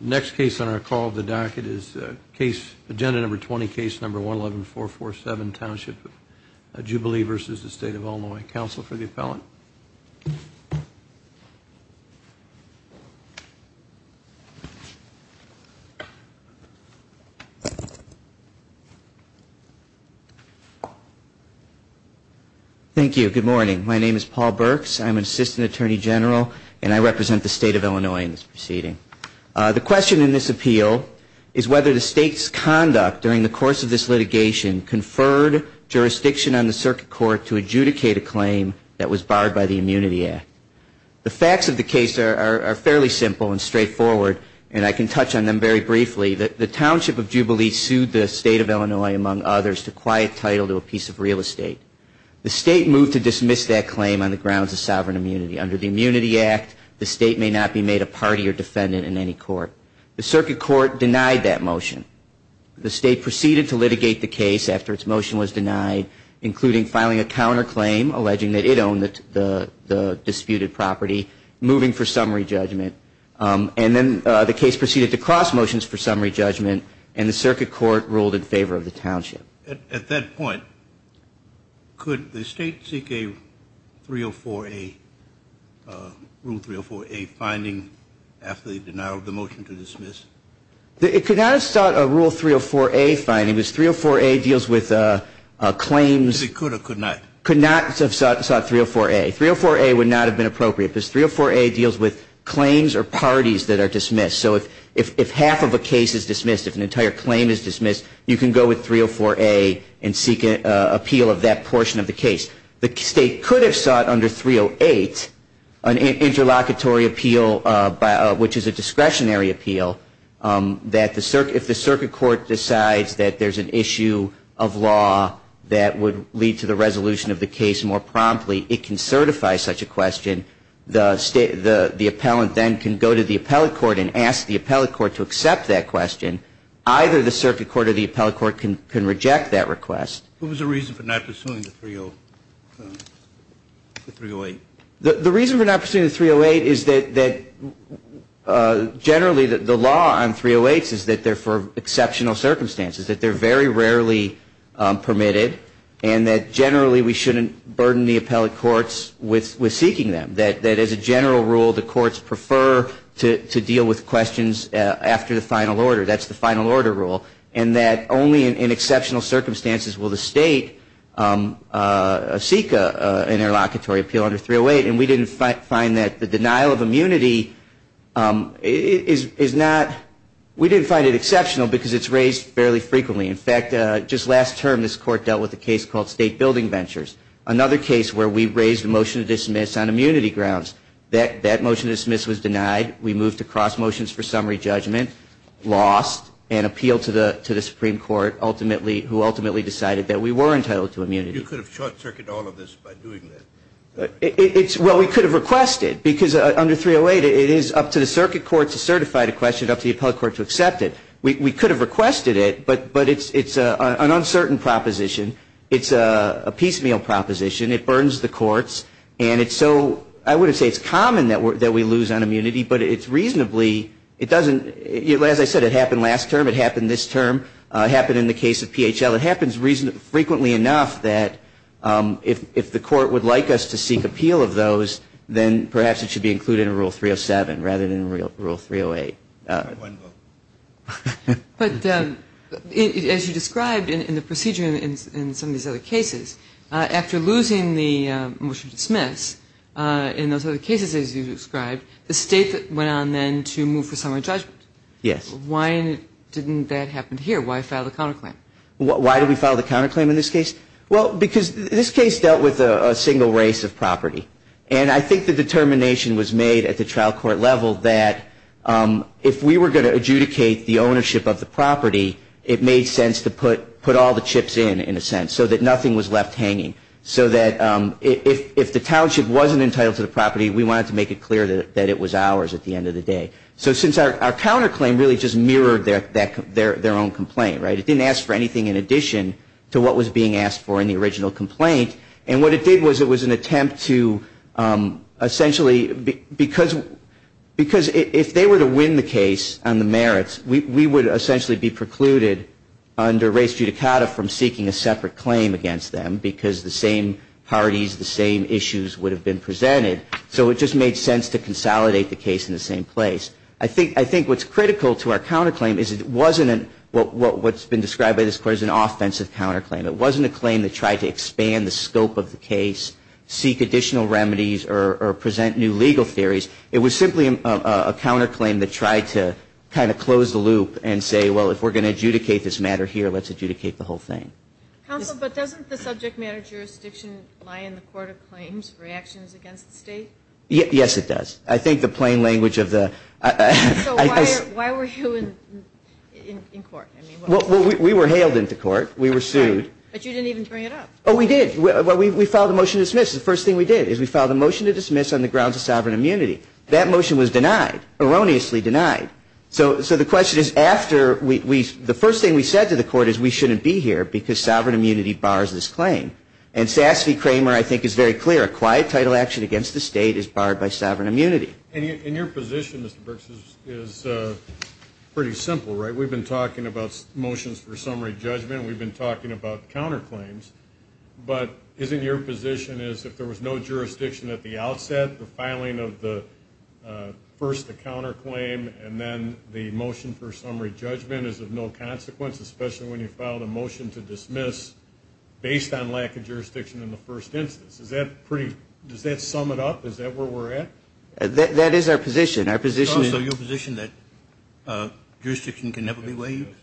Next case on our call of the docket is case, agenda number 20, case number 11447, Township of Jubilee v. State of Illinois. Counsel for the appellant. Thank you. Good morning. My name is Paul Burks. I'm an assistant attorney general, and I represent the State of Illinois in this proceeding. The question in this appeal is whether the State's conduct during the course of this litigation conferred jurisdiction on the circuit court to adjudicate a claim that was barred by the Immunity Act. The facts of the case are fairly simple and straightforward, and I can touch on them very briefly. The Township of Jubilee sued the State of Illinois, among others, to quiet title to a piece of real estate. The State moved to dismiss that claim on the grounds of sovereign immunity. Under the Immunity Act, the State may not be made a party or defendant in any court. The circuit court denied that motion. The State proceeded to litigate the case after its motion was denied, including filing a counterclaim alleging that it owned the disputed property, moving for summary judgment, and then the case proceeded to cross motions for summary judgment, and the circuit court ruled in favor of the Township. At that point, could the State seek a rule 304A finding after the motion was denied? It could not have sought a rule 304A finding. It was 304A deals with claims. It could or could not? It could not have sought 304A. 304A would not have been appropriate because 304A deals with claims or parties that are dismissed. So if half of a case is dismissed, if an entire claim is dismissed, you can go with 304A and seek an appeal of that portion of the case. The State could have sought under 308 an interlocutory appeal, which is a discretionary appeal, that if the circuit court decides that there's an issue of law that would lead to the resolution of the case more promptly, it can certify such a question. The appellant then can go to the appellate court and ask the appellate court to accept that question. Either the circuit court or the appellate court can reject that request. What was the reason for not pursuing the 308? The reason for not pursuing the 308 is that generally the law on 308s is that they're for exceptional circumstances, that they're very rarely permitted, and that generally we shouldn't burden the appellate courts with seeking them, that as a general rule the courts prefer to deal with questions after the final order rule, and that only in exceptional circumstances will the State seek an interlocutory appeal under 308. And we didn't find that the denial of immunity is not, we didn't find it exceptional because it's raised fairly frequently. In fact, just last term this court dealt with a case called State Building Ventures, another case where we raised a motion to dismiss on immunity grounds. That motion to dismiss was denied. We moved to cross motions for summary judgment, lost, and appealed to the Supreme Court, ultimately, who ultimately decided that we were entitled to immunity. You could have short-circuited all of this by doing that? Well, we could have requested, because under 308 it is up to the circuit court to certify the question, up to the appellate court to accept it. We could have requested it, but it's an uncertain proposition. It's a piecemeal proposition. It burdens the courts, and it's so, I would say it's common that we lose on immunity, but it's reasonably, it doesn't, as I said, it happened last term, it happened this term, it happened in the case of PHL. It happens frequently enough that if the court would like us to seek appeal of those, then perhaps it should be included in Rule 307 rather than Rule 308. But as you described in the procedure in some of these other cases, after losing the motion to dismiss, in those other cases as you described, the state went on then to move for summary judgment. Yes. Why didn't that happen here? Why file the counterclaim? Why did we file the counterclaim in this case? Well, because this case dealt with a single race of property, and I think the determination was made at the trial court level that if we were going to adjudicate the ownership of the property, it made sense to put all the chips in, in a sense, so that nothing was left out of the case. It didn't ask for anything in addition to what was being asked for in the original complaint, and what it did was it was an attempt to essentially, because if they were to win the case on the merits, we would essentially be precluded under race judicata from seeking a separate claim against them, because the same parties, the same issues would have been presented. So it just made sense to consolidate the case. I think what's critical to our counterclaim is it wasn't an, what's been described by this court as an offensive counterclaim. It wasn't a claim that tried to expand the scope of the case, seek additional remedies, or present new legal theories. It was simply a counterclaim that tried to kind of close the loop and say, well, if we're going to adjudicate this matter here, let's adjudicate the whole thing. Counsel, but doesn't the subject matter jurisdiction lie in the court of claims reactions against the state? Yes, it does. I think the plain language of the... So why were you in court? Well, we were hailed into court. We were sued. But you didn't even bring it up. Oh, we did. Well, we filed a motion to dismiss. The first thing we did is we filed a motion to dismiss on the grounds of sovereign immunity. That motion was denied, erroneously denied. So the question is after we, the first thing we said to the court is we shouldn't be here, because sovereign immunity bars this claim. And Sasse v. Kramer, I think, is very clear. A quiet title action against the state is barred by sovereign immunity. And your position, Mr. Brooks, is pretty simple, right? We've been talking about motions for summary judgment. We've been talking about counterclaims. But isn't your position is if there was no jurisdiction at the outset, the filing of the first counterclaim and then the motion for summary judgment is of no consequence, especially when you filed a motion to dismiss based on lack of jurisdiction in the first instance. Does that sum it up? Is that where we're at? That is our position. That's correct. Jurisdiction can never be waived.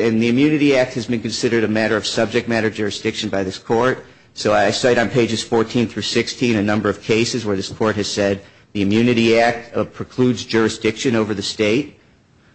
And the Immunity Act has been considered a matter of subject matter jurisdiction by this court. So I cite on pages 14 through 16 a number of cases where this court has said the Immunity Act precludes jurisdiction over the state.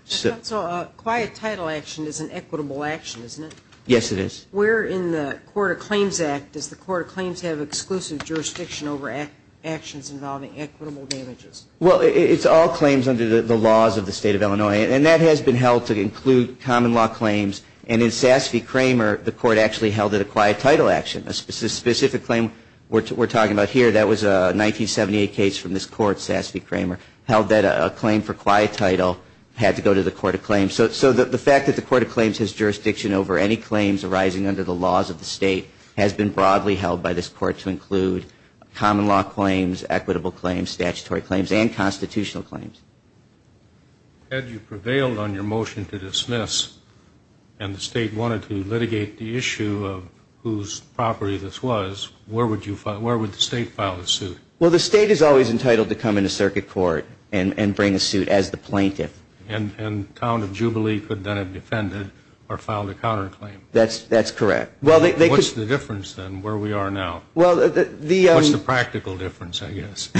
So a quiet title action is an equitable action, isn't it? Yes, it is. Where in the Court of Claims Act does the Court of Claims have exclusive jurisdiction over actions involving equitable damages? Well, it's all claims under the laws of the state of Illinois. And that has been held to include common law claims. And in Sasse v. Kramer, the court actually held it a quiet title action. A specific claim we're talking about here, that was a 1978 case from this court, Sasse v. Kramer, held that a claim for quiet title had to go to the Court of Claims. So the fact that the Court of Claims has jurisdiction over any claims arising under the laws of the state has been broadly held by this court to include common law claims, equitable claims, statutory claims, and constitutional claims. Had you prevailed on your motion to dismiss and the state wanted to litigate the issue of whose property this was, where would the state file a suit? Well, the state is always entitled to come into circuit court and bring a suit as the plaintiff. And Town of Jubilee could then have defended or filed a counterclaim. That's correct. What's the difference then, where we are now? What's the practical difference, I guess?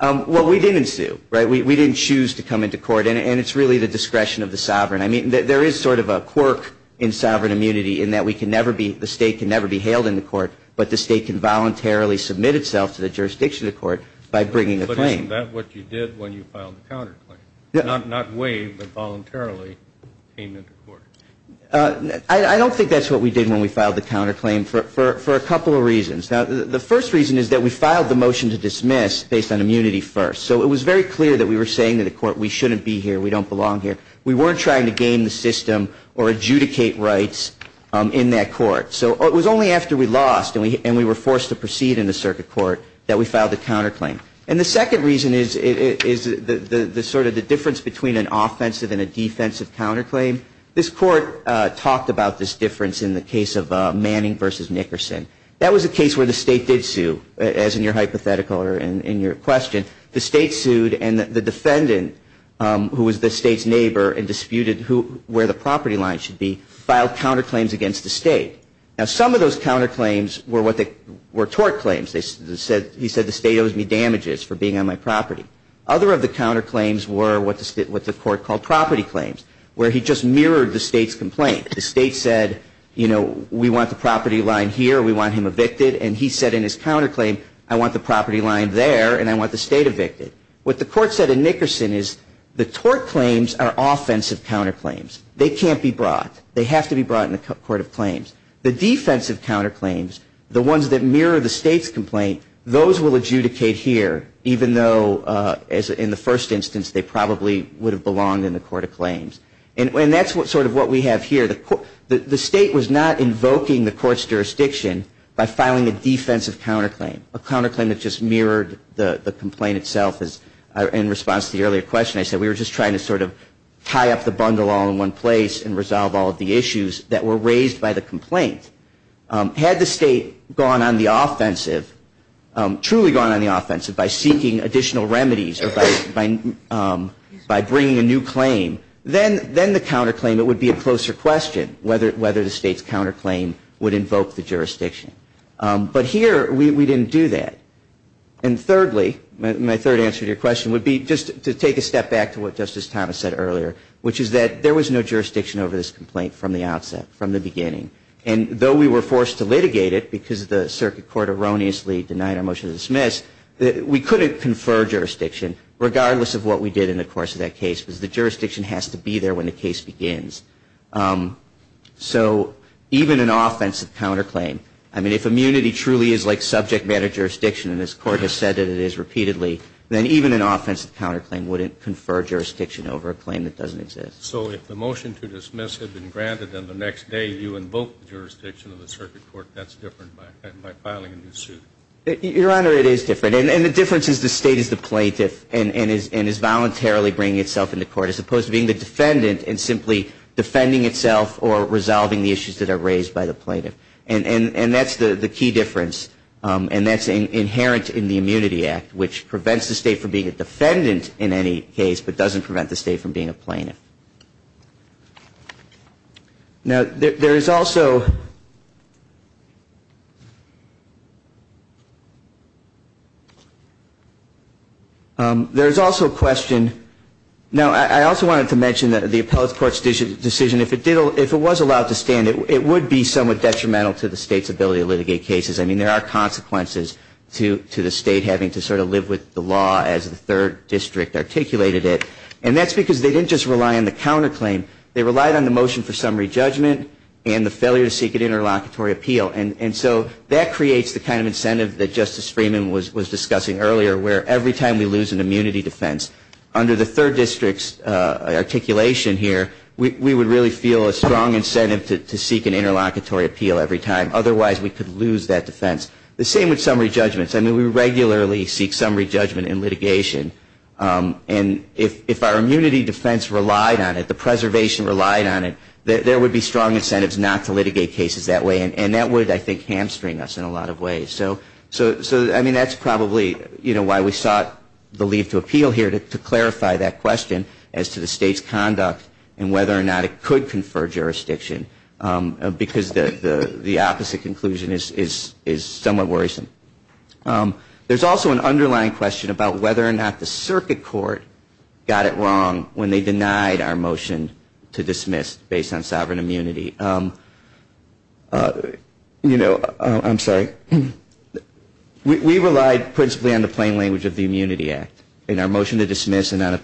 Well, we didn't sue. We didn't choose to come into court. And it's really the discretion of the sovereign. I mean, there is sort of a quirk in sovereign immunity in that the state can never be hailed in the court, but the state can voluntarily submit itself to the jurisdiction of the court by bringing a claim. But isn't that what you did when you filed the counterclaim? Not waive, but voluntarily came into court? I don't think that's what we did when we filed the counterclaim for a couple of reasons. Now, the first reason is that we filed the motion to dismiss based on immunity first. So it was very clear that we were saying to the court, we shouldn't be here, we don't belong here. We weren't trying to game the system or adjudicate rights in that court. So it was only after we lost and we were forced to proceed in the circuit court that we filed the counterclaim. And the second reason is sort of the difference between an offensive and a defensive counterclaim. This court talked about this difference in the case of Manning v. Nickerson. That was a case where the state did sue, as in your hypothetical or in your question. The state sued, and the defendant, who was the state's neighbor and disputed where the property line should be, filed counterclaims against the state. Now, some of those counterclaims were tort claims. He said the state owes me damages for being on my property. Other of the counterclaims were what the court called property claims, where he just mirrored the state's complaint. The state said, you know, we want the property line here, we want him evicted. And he said in his counterclaim, I want the property line there and I want the state evicted. What the court said in Nickerson is the tort claims are offensive counterclaims. They can't be brought. They have to be brought in the court of claims. The defensive counterclaims, the ones that mirror the state's complaint, those will adjudicate here, even though in the first instance they probably would have belonged in the court of claims. And that's sort of what we have here. The state was not invoking the court's jurisdiction by filing a defensive counterclaim, a counterclaim that just mirrored the complaint itself. In response to the earlier question, I said we were just trying to sort of tie up the bundle all in one place and resolve all of the issues that were raised by the complaint. Had the state gone on the offensive, truly gone on the offensive by seeking additional remedies or by bringing a new claim, then the counterclaim, it would be a closer question whether the state's counterclaim would invoke the jurisdiction. But here we didn't do that. And thirdly, my third answer to your question would be just to take a step back to what Justice Thomas said earlier, which is that there was no jurisdiction over this complaint from the outset, from the beginning. And though we were forced to litigate it because the circuit court erroneously denied our motion to dismiss, we couldn't confer jurisdiction regardless of what we did in the course of that case because the jurisdiction has to be there when the case begins. So even an offensive counterclaim, I mean, if immunity truly is like subject matter jurisdiction, and this court has said that it is repeatedly, then even an offensive counterclaim wouldn't confer jurisdiction over a claim that doesn't exist. So if the motion to dismiss had been granted, then the next day you invoked the jurisdiction of the circuit court, that's different by filing a new suit? Your Honor, it is different. And the difference is the state is the plaintiff and is voluntarily bringing itself into court as opposed to being the defendant and simply defending itself or resolving the issues that are raised by the plaintiff. And that's the key difference. And that's inherent in the Immunity Act, which prevents the state from being a defendant in any case, but doesn't prevent the state from being a plaintiff. There is also a question. Now, I also wanted to mention that the appellate court's decision, if it was allowed to stand, it would be somewhat detrimental to the state's ability to litigate cases. I mean, there are consequences to the state having to sort of live with the law as the third district articulated it. And that's because they didn't just rely on the counterclaim, they relied on the motion for summary judgment and the failure to seek an interlocutory appeal. And so that creates the kind of incentive that Justice Freeman was discussing earlier, where every time we lose an immunity defense, under the third district's articulation here, we would really feel a strong interlocutory appeal every time. Otherwise, we could lose that defense. The same with summary judgments. I mean, we regularly seek summary judgment in litigation. And if our immunity defense relied on it, the preservation relied on it, there would be strong incentives not to litigate cases that way. And that would, I think, hamstring us in a lot of ways. So, I mean, that's probably why we sought the leave to appeal here, to clarify that question as to the state's conduct and whether or not it could confer jurisdiction. Because the opposite conclusion is somewhat worrisome. There's also an underlying question about whether or not the circuit court got it wrong when they denied our motion to dismiss based on sovereign immunity. You know, I'm sorry. We relied principally on the plain language of the Immunity Act. And our motion to dismiss and the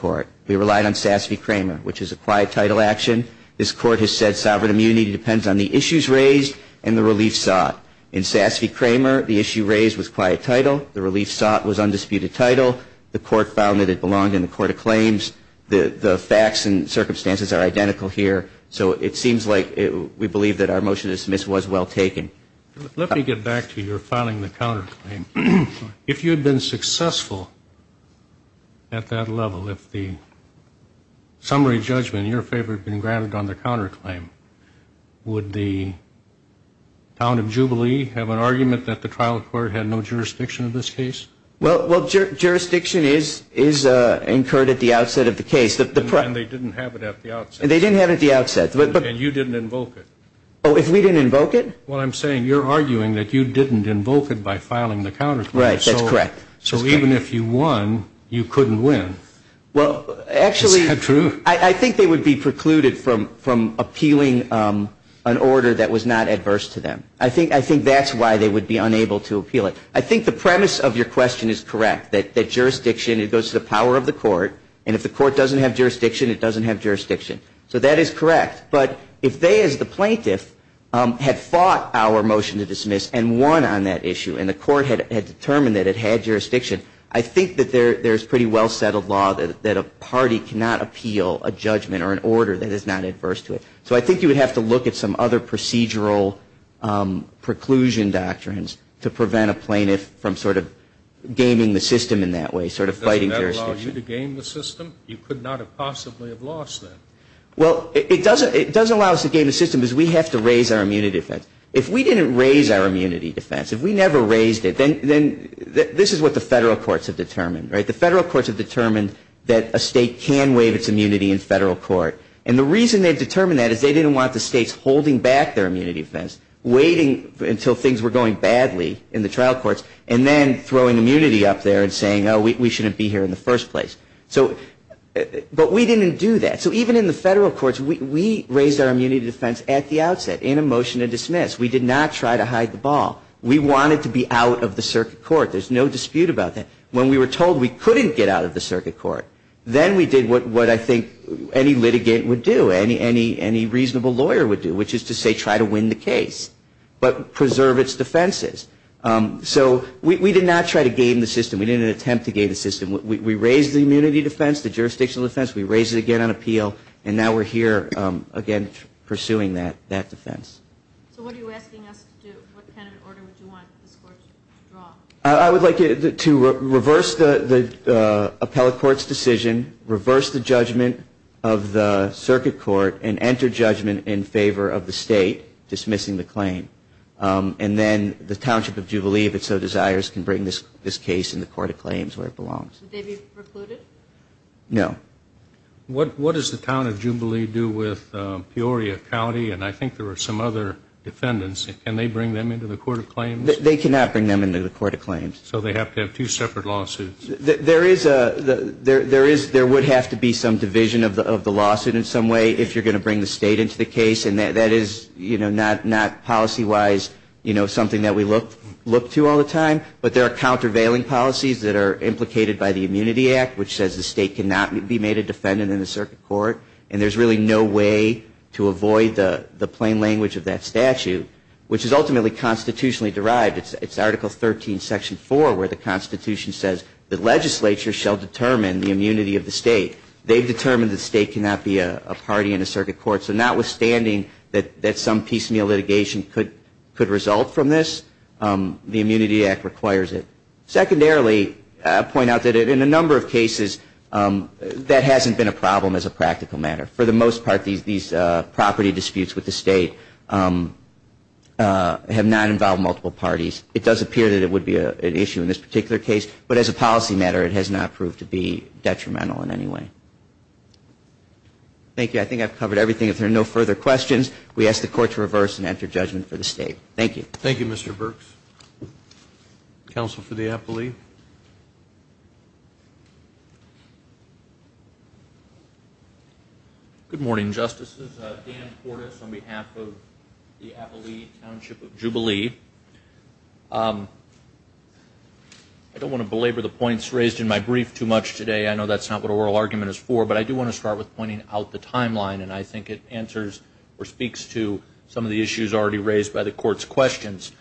court, we relied on Sasse v. Kramer, which is a quiet title action. This court has said sovereign immunity depends on the issues raised and the relief sought. In Sasse v. Kramer, the issue raised was quiet title. The relief sought was undisputed title. The court found that it belonged in the court of claims. The facts and circumstances are identical here. So it seems like we believe that our motion to dismiss was well taken. I'm just curious, if the summary judgment in your favor had been granted on the counterclaim, would the town of Jubilee have an argument that the trial court had no jurisdiction of this case? Well, jurisdiction is incurred at the outset of the case. And they didn't have it at the outset. And you didn't invoke it. Oh, if we didn't invoke it? Well, I'm saying you're arguing that you didn't invoke it by filing the counterclaim. Right. That's correct. So even if you won, you couldn't win. Well, actually, I think they would be precluded from appealing an order that was not adverse to them. I think that's why they would be unable to appeal it. I think the premise of your question is correct, that jurisdiction, it goes to the power of the court. And if the court doesn't have jurisdiction, it And if the plaintiff had fought our motion to dismiss and won on that issue, and the court had determined that it had jurisdiction, I think that there's pretty well-settled law that a party cannot appeal a judgment or an order that is not adverse to it. So I think you would have to look at some other procedural preclusion doctrines to prevent a plaintiff from sort of gaming the system in that way, sort of fighting jurisdiction. Doesn't that allow you to game the system? You could not have possibly have lost that. Well, it doesn't allow us to game the system because we have to raise our immunity defense. If we didn't raise our immunity defense, if we never raised it, then this is what the federal courts have determined. The federal courts have determined that a state can waive its immunity in federal court. And the reason they determined that is they didn't want the states holding back their immunity defense, waiting until things were going badly in the trial courts, and then throwing immunity up there and saying, oh, we shouldn't be here in the first place. So, but we didn't do that. So even in the federal courts, we raised our immunity defense at the outset, in a motion to dismiss. We did not try to hide the ball. We wanted to be out of the circuit court. There's no dispute about that. When we were told we couldn't get out of the circuit court, then we did what I think any litigant would do, any reasonable lawyer would do, which is to say try to win the case. But preserve its defenses. So we did not try to game the system. We didn't attempt to game the system. We raised the immunity defense. We raised it again on appeal. And now we're here again pursuing that defense. So what are you asking us to do? What kind of order would you want this court to draw? I would like to reverse the appellate court's decision, reverse the judgment of the circuit court, and enter judgment in favor of the state dismissing the claim. And then the Township of Jubilee, if it so desires, can bring this case in the court of claims? No. What does the Town of Jubilee do with Peoria County? And I think there are some other defendants. Can they bring them into the court of claims? They cannot bring them into the court of claims. So they have to have two separate lawsuits. There is a, there is, there would have to be some division of the lawsuit in some way if you're going to bring the state into the case. And that is, you know, not policy-wise, you know, something that we look to all the time. But there are countervailing policies that are in place that say the state cannot be made a defendant in the circuit court. And there's really no way to avoid the plain language of that statute, which is ultimately constitutionally derived. It's Article 13, Section 4, where the Constitution says the legislature shall determine the immunity of the state. They've determined the state cannot be a party in a circuit court. So notwithstanding that some piecemeal litigation could result from this, the Immunity Act requires it. Secondarily, I'll point out that in a number of cases that hasn't been a problem as a practical matter. For the most part, these property disputes with the state have not involved multiple parties. It does appear that it would be an issue in this particular case. But as a policy matter, it has not proved to be detrimental in any way. Thank you. I think I've covered everything. If there are no further questions, we ask the Court to reverse and enter judgment for the appellee. Good morning, Justices. Dan Portis on behalf of the Appalachian Township of Jubilee. I don't want to belabor the points raised in my brief too much today. I know that's not what oral argument is for. But I do want to start with pointing out the timeline. And I think it answers or speaks to some of the issues already raised by the Court's questions.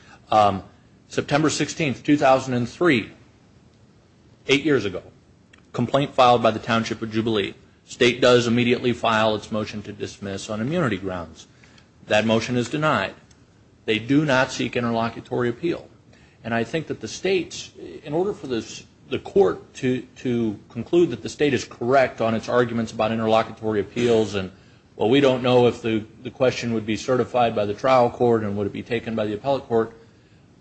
September 16, 2003, eight years ago. Complaint filed by the Township of Jubilee. State does immediately file its motion to dismiss on immunity grounds. That motion is denied. They do not seek interlocutory appeal. And I think that the states, in order for the Court to conclude that the state is correct on its arguments about interlocutory appeals and, well, we don't know if the question would be certified by the trial court and would it be taken by the appellate court.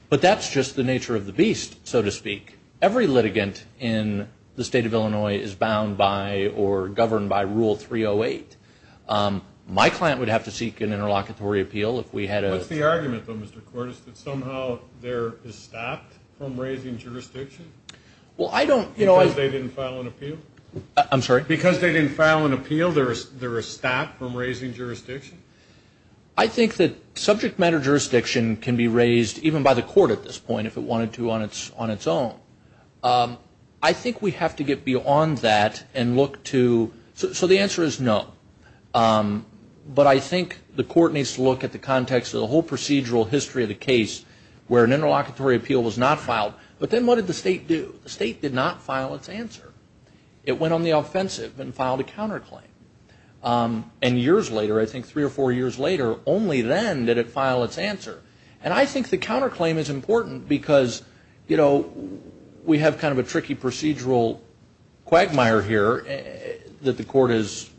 But that's just the nature of the beast, so to speak. Every litigant in the state of Illinois is bound by or governed by Rule 308. My client would have to seek an interlocutory appeal if we had a... What's the argument, though, Mr. Cordes, that somehow there is stopped from raising jurisdiction? Because they didn't file an appeal? I'm sorry? Because they didn't file an appeal, there is stopped from raising jurisdiction? I think that subject matter jurisdiction can be raised even by the Court at this point if it wanted to on its own. I think we have to get beyond that and look to... So the answer is no. But I think the Court needs to look at the context of the whole procedural history of the case where an interlocutory appeal was not filed. But then what did the state do? The state did not file its answer. It went on the offensive and filed a counterclaim. And years later, I think three or four years later, only then did it file its answer. And I think the counterclaim is important because, you know, we have kind of a tricky procedural quagmire here that the Court has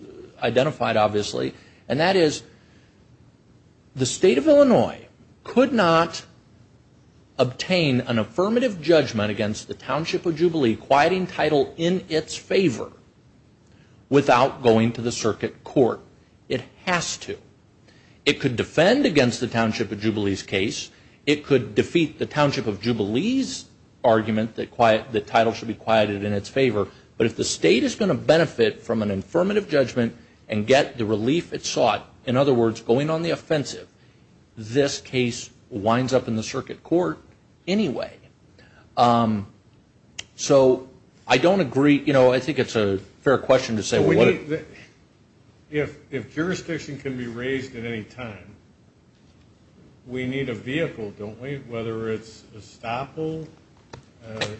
identified, obviously, and that is the state of Illinois could not obtain an affirmative judgment against the township of Jubilee's case. It could defend against the township of Jubilee's case. It could defeat the township of Jubilee's argument that the title should be quieted in its favor. But if the state is going to benefit from an affirmative judgment and get the relief it sought, in other words, going on the offensive, this case winds up in the circuit court anyway. So I don't agree, you know, I think it's a fair question to say what... If jurisdiction can be raised at any time, we need a vehicle, don't we? Whether it's a stopple,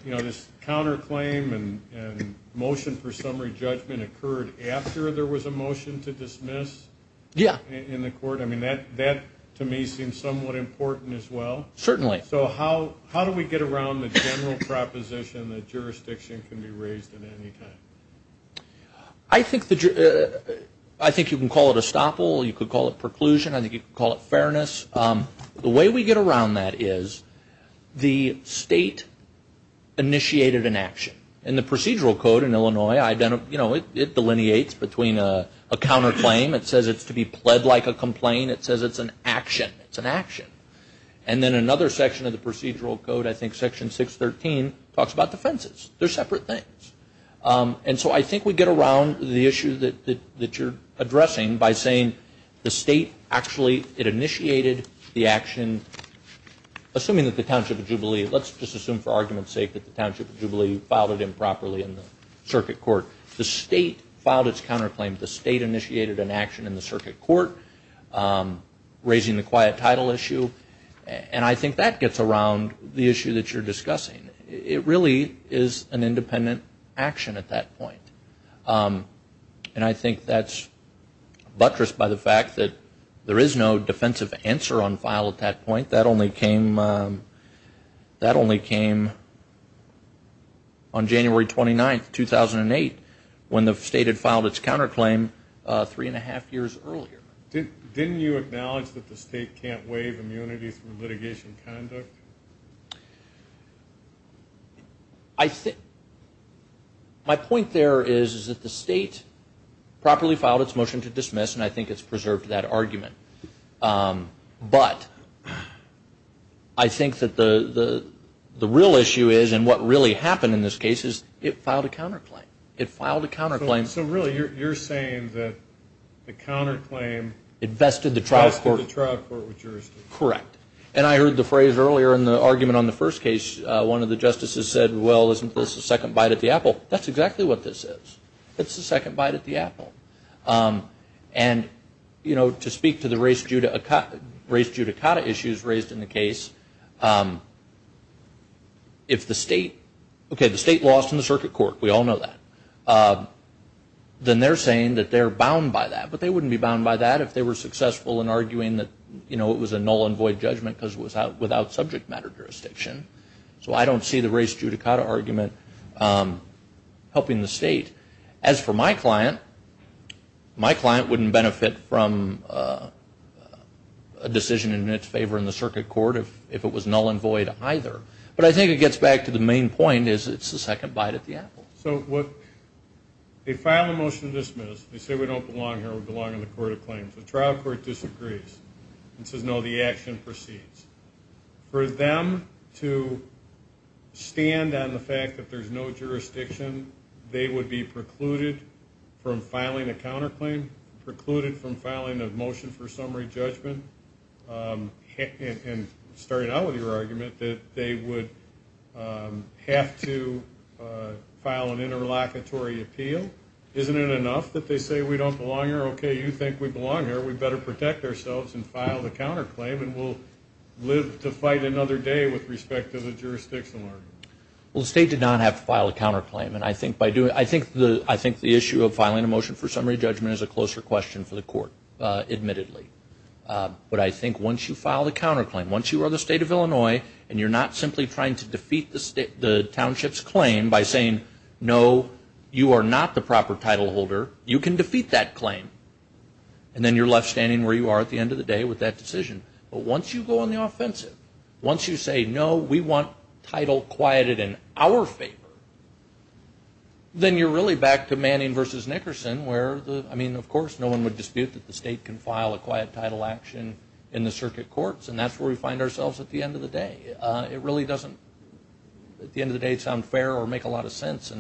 you know, this counterclaim and motion for summary judgment occurred after there was a motion to dismiss in the Court. I mean, that to me seems somewhat important as well. Certainly. So how do we get around the general proposition that jurisdiction can be raised at any time? I think you can call it a stopple, you can call it preclusion, I think you can call it fairness. The way we get around that is the state initiated an action. In the procedural code in Illinois, you know, it delineates between a counterclaim, it says it's to the state, and then another section of the procedural code, I think section 613, talks about defenses. They're separate things. And so I think we get around the issue that you're addressing by saying the state actually, it initiated the action, assuming that the Township of Jubilee, let's just assume for argument's sake that the Township of Jubilee filed it improperly in the circuit court. The state filed its counterclaim, the state initiated an action in the circuit court, raising the quiet title issue. And I think that gets around the issue that you're discussing. It really is an independent action at that point. And I think that's buttressed by the fact that there is no defensive answer on file at that point. That only came on January 29th, 2008, when the state had filed its counterclaim three and a half years earlier. Didn't you acknowledge that the state can't waive immunity through litigation conduct? My point there is that the state properly filed its motion to dismiss, and I think it's preserved that argument. But I think that the real issue is, and what really happened in this case, is it filed a counterclaim. It filed a counterclaim. So really, you're saying that the counterclaim vested the trial court with jurisdiction? Correct. And I heard the phrase earlier in the argument on the first case, one of the justices said, well, isn't this a second bite at the apple? That's exactly what this is. It's a second bite at the apple. And, you know, to speak to the race judicata issues raised in the case, if the state, okay, the state lost in the circuit court, we all know that. If the state lost in the circuit court, then they're saying that they're bound by that. But they wouldn't be bound by that if they were successful in arguing that, you know, it was a null and void judgment because it was without subject matter jurisdiction. So I don't see the race judicata argument helping the state. As for my client, my client wouldn't benefit from a decision in its favor in the circuit court if it was null and void either. But I think it gets back to the main point is it's a second bite at the apple. So what, they file a motion to dismiss. They say we don't belong here, we belong in the court of claims. The trial court disagrees and says no, the action proceeds. For them to stand on the fact that there's no jurisdiction, they would be precluded from filing a counterclaim, precluded from filing a motion for summary judgment, and starting out with your client. So I don't think it's fair to file an interlocutory appeal. Isn't it enough that they say we don't belong here? Okay, you think we belong here. We'd better protect ourselves and file the counterclaim and we'll live to fight another day with respect to the jurisdiction argument. Well, the state did not have to file a counterclaim. And I think the issue of filing a motion for summary judgment is a closer question for the court, admittedly. But I think once you file the counterclaim, once you are the state of Illinois and you're not simply trying to defeat the township's claim by saying no, you are not the proper title holder, you can defeat that claim. And then you're left standing where you are at the end of the day with that decision. But once you go on the offensive, once you say no, we want title quieted in our favor, then you're really back to Manning v. Nickerson where, I mean, of course, no one would dispute that the state can file a quiet title action in the circuit courts. And that's where we are. It really doesn't, at the end of the day, sound fair or make a lot of sense.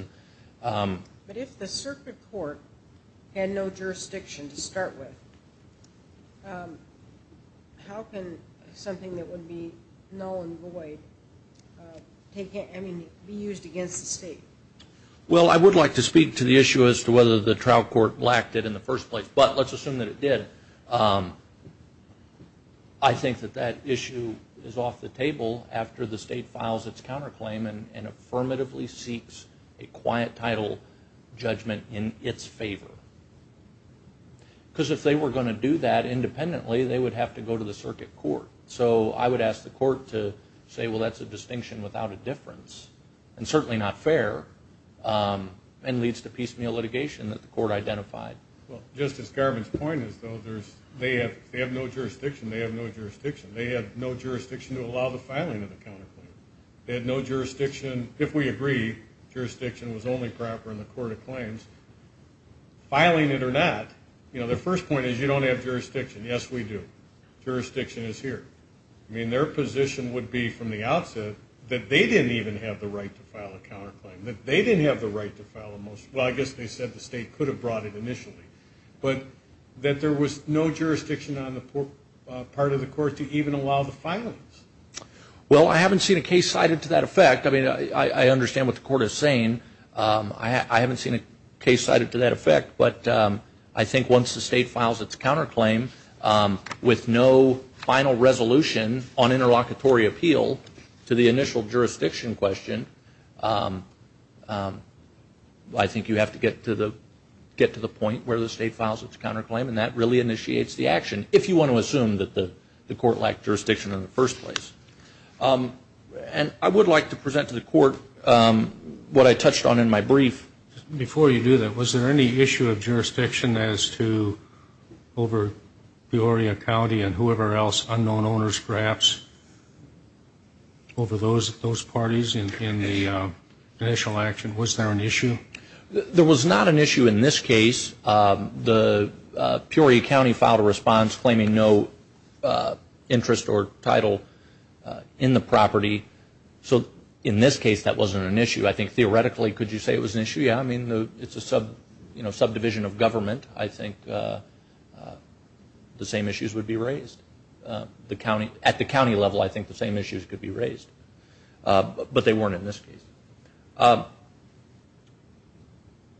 But if the circuit court had no jurisdiction to start with, how can something that would be null and void be used against the state? Well, I would like to speak to the issue as to whether the trial court lacked it in the first place. But let's assume that it was the case where the state files its counterclaim and affirmatively seeks a quiet title judgment in its favor. Because if they were going to do that independently, they would have to go to the circuit court. So I would ask the court to say, well, that's a distinction without a difference, and certainly not fair, and leads to piecemeal litigation that the court identified. Well, Justice Garvin's point is though, if they have no jurisdiction, they have no jurisdiction. They have no jurisdiction to allow the filing of the counterclaim. They had no jurisdiction. If we agree jurisdiction was only proper in the court of claims, filing it or not, you know, the first point is you don't have jurisdiction. Yes, we do. Jurisdiction is here. I mean, their position would be from the outset that they didn't even have the right to file a counterclaim, that they didn't have the right to file a motion. Well, I guess they said the state could have brought it initially. But that there was no jurisdiction on the part of the court to even allow the filings. Well, I haven't seen a case cited to that effect. I mean, I understand what the court is saying. I haven't seen a case cited to that effect. But I think once the state files its counterclaim with no final resolution on interlocutory appeal to the initial jurisdiction question, I think you have to get to the point where the state files its counterclaim and that really initiates the action if you want to assume that the court lacked jurisdiction in the first place. And I would like to present to the court what I touched on in my brief. Before you do that, was there any issue of jurisdiction as to over Peoria County and whoever else, unknown owners perhaps, over those parties in the initial action? Was there an issue? There was not an issue in this case. The Peoria County filed a response claiming no interest or title in the property. So in this case, that wasn't an issue. I think theoretically, could you say it was an issue? Yeah, I mean, it's a subdivision of government. I think the same issues would be raised. At the county level, I think the same issues could be raised. But they weren't in this case.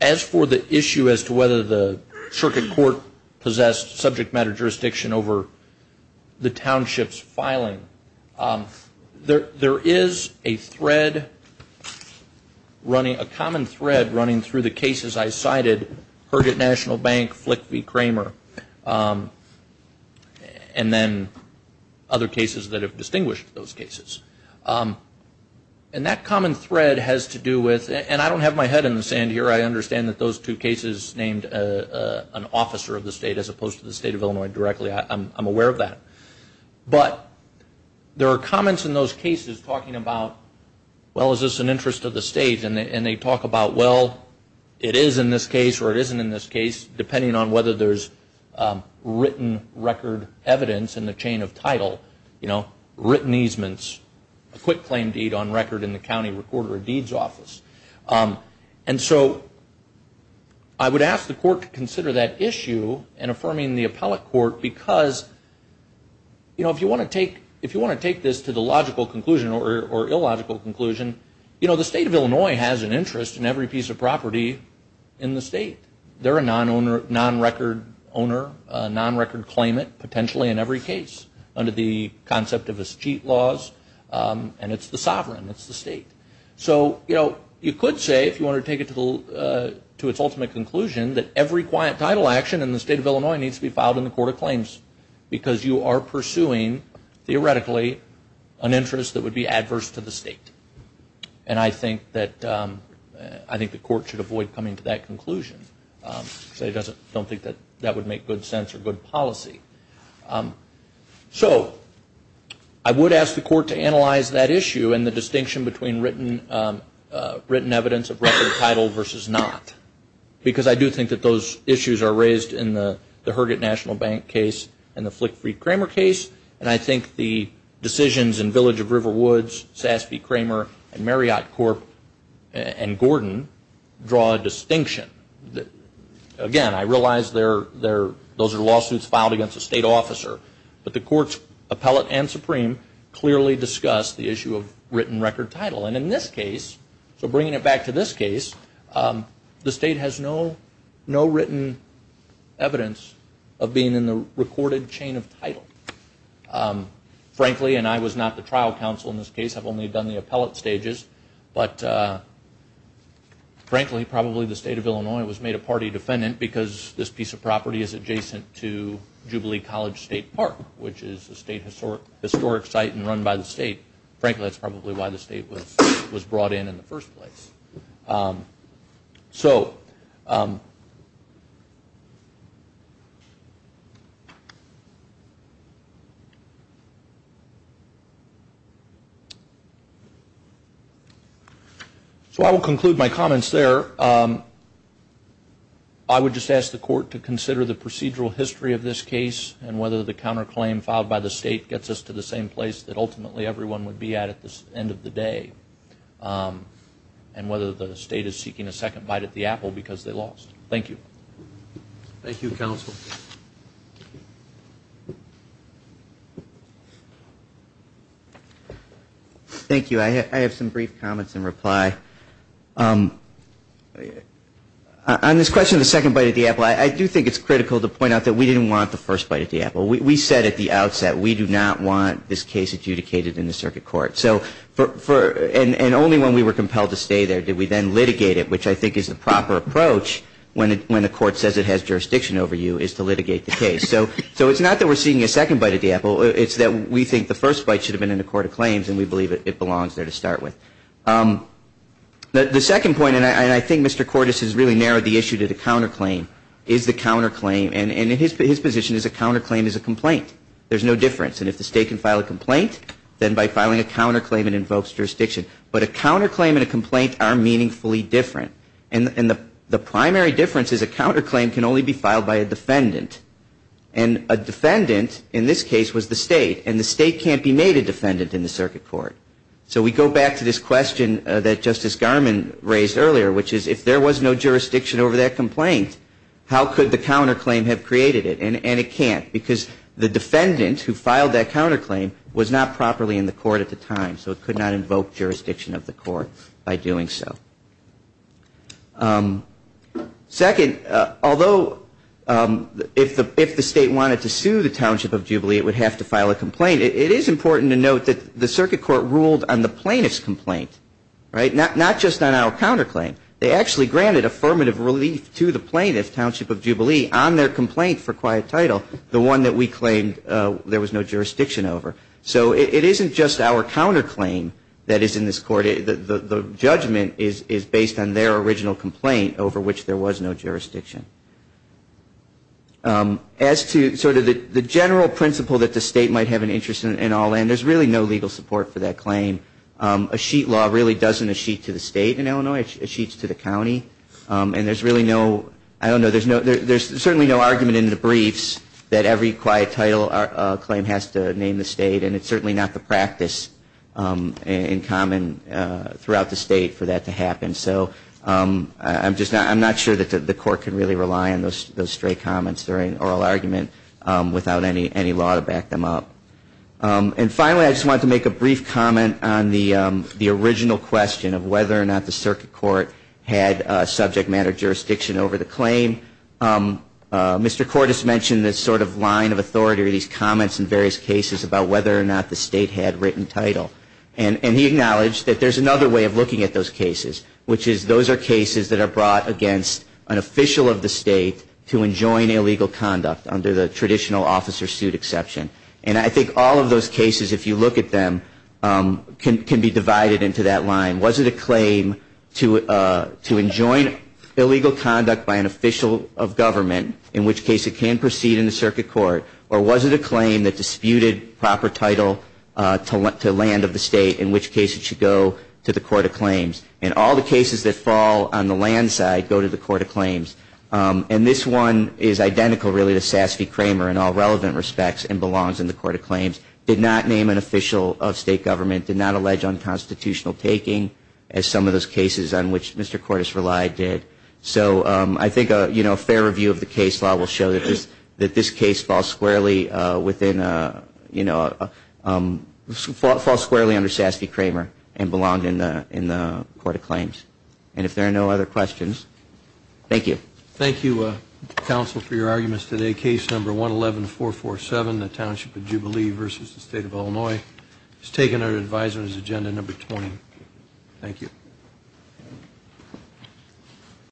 As for the issue as to whether the circuit court possessed subject matter jurisdiction over the township's filing, there is a thread running, a common thread running through the cases I cited, Herget National Bank, Flick v. Kramer, and then other cases that have distinguished those cases. And that common thread has to do with, and I don't have my head in the same boat. I understand that those two cases named an officer of the state as opposed to the state of Illinois directly. I'm aware of that. But there are comments in those cases talking about, well, is this an interest of the state? And they talk about, well, it is in this case or it isn't in this case, depending on whether there's written record evidence in the chain of title, written easements, quick claim deed on record in the county recorder of deeds office. And so I would ask the court to consider that issue in affirming the appellate court because, you know, if you want to take this to the logical conclusion or illogical conclusion, you know, the state of Illinois has an interest in every piece of property in the state. They're a non-record owner, a non-record claimant, potentially in every case under the concept of a cheat laws. And it's the sovereign. It's the state. So, you know, you could say, if you want to take it to its ultimate conclusion, that every quiet title action in the state of Illinois needs to be filed in the court of claims because you are pursuing, theoretically, an interest that would be adverse to the state. And I think that, I think the court should avoid coming to that conclusion because I don't think that would make good sense or good policy. So I would ask the court to analyze that issue and the distinction between written evidence of record title versus not. Because I do think that those issues are raised in the Herget National Bank case and the Flick v. Kramer case. And I think the decisions in Village of Riverwoods, Sass v. Kramer, and Marriott Corp. and Gordon draw a distinction. Again, I realize those are lawsuits filed against a state officer. But the court's appellate and supreme clearly discuss the issue of written record title. And in this case, so bringing it back to this case, the state has no written evidence of being in the recorded chain of title. Frankly, and I was not the trial counsel in this case. I've only done the appellate stages. But frankly, probably the state of Illinois was made a state historic site and run by the state. Frankly, that's probably why the state was brought in in the first place. So I will conclude my comments there. I would just ask the court to consider the procedural history of this case and whether the counterclaim filed by the state gets us to the same place that ultimately everyone would be at at the end of the day. And whether the state is seeking a second bite at the apple because they lost. Thank you. Thank you, counsel. Thank you. I have some brief comments in reply. On this question of the second bite at the apple, I do think it's critical to point out that we didn't want the first bite at the apple. We said at the outset we do not want this case adjudicated in the circuit court. And only when we were compelled to stay there did we then litigate it, which I think is the proper approach when the court says it has jurisdiction over you, is to litigate the case. So it's not that we're seeking a second bite at the apple. It's that we think the first bite should have been in the court of claims and we believe it belongs there to start with. The second point, and I think Mr. Cordes has really narrowed the issue to the counterclaim, is the counterclaim, and his position is a counterclaim is a complaint. There's no difference. And if the state can file a complaint, then by filing a counterclaim it invokes jurisdiction. But a counterclaim and a complaint are meaningfully different. And the primary difference is a counterclaim can only be filed by a defendant. And a defendant in this case was the state. And the state can't be made a defendant in the circuit court. So we go back to this question that Justice Garmon raised earlier, which is if there was no jurisdiction over that complaint, how could the counterclaim have created it? And it can't. Because the defendant who filed that counterclaim was not properly in the court at the time. So it could not involve jurisdiction. And the state can't invoke jurisdiction of the court by doing so. Second, although if the state wanted to sue the Township of Jubilee, it would have to file a complaint, it is important to note that the circuit court ruled on the plaintiff's complaint, right? Not just on our counterclaim. They actually granted affirmative relief to the plaintiff, Township of Jubilee, on their complaint for quiet title, the one that we claimed there was no jurisdiction over. So it isn't just the plaintiff that is in this court. The judgment is based on their original complaint over which there was no jurisdiction. As to sort of the general principle that the state might have an interest in all in, there's really no legal support for that claim. A sheet law really doesn't a sheet to the state in Illinois. It sheets to the county. And there's really no, I don't know, there's certainly no argument in the briefs that every quiet title claim has to name the state. And it's certainly not the practice in common throughout the state for that to happen. So I'm just not, I'm not sure that the court can really rely on those stray comments or oral argument without any law to back them up. And finally, I just wanted to make a brief comment on the original question of whether or not the circuit court had subject matter jurisdiction over the claim. Mr. Cordes mentioned this sort of line of authority or these comments in various cases about whether or not the state had written title. And he acknowledged that there's another way of looking at those cases, which is those are cases that are brought against an official of the state to enjoin illegal conduct under the traditional officer suit exception. And I think all of those cases, if you look at them, can be divided into that line. Was it a claim to enjoin illegal conduct by an official of the state to land of the state, in which case it should go to the court of claims. And all the cases that fall on the land side go to the court of claims. And this one is identical, really, to Sasse v. Kramer in all relevant respects and belongs in the court of claims. Did not name an official of state government, did not allege unconstitutional taking, as some of those cases on which Mr. Cordes relied did. So I think a fair review of the case law will show that this case falls squarely within, you know, the falls squarely under Sasse v. Kramer and belonged in the court of claims. And if there are no other questions, thank you. Thank you, counsel, for your arguments today. Case number 111447, the Township of Jubilee v. State of Illinois, has taken our advisers agenda number 20. Thank you.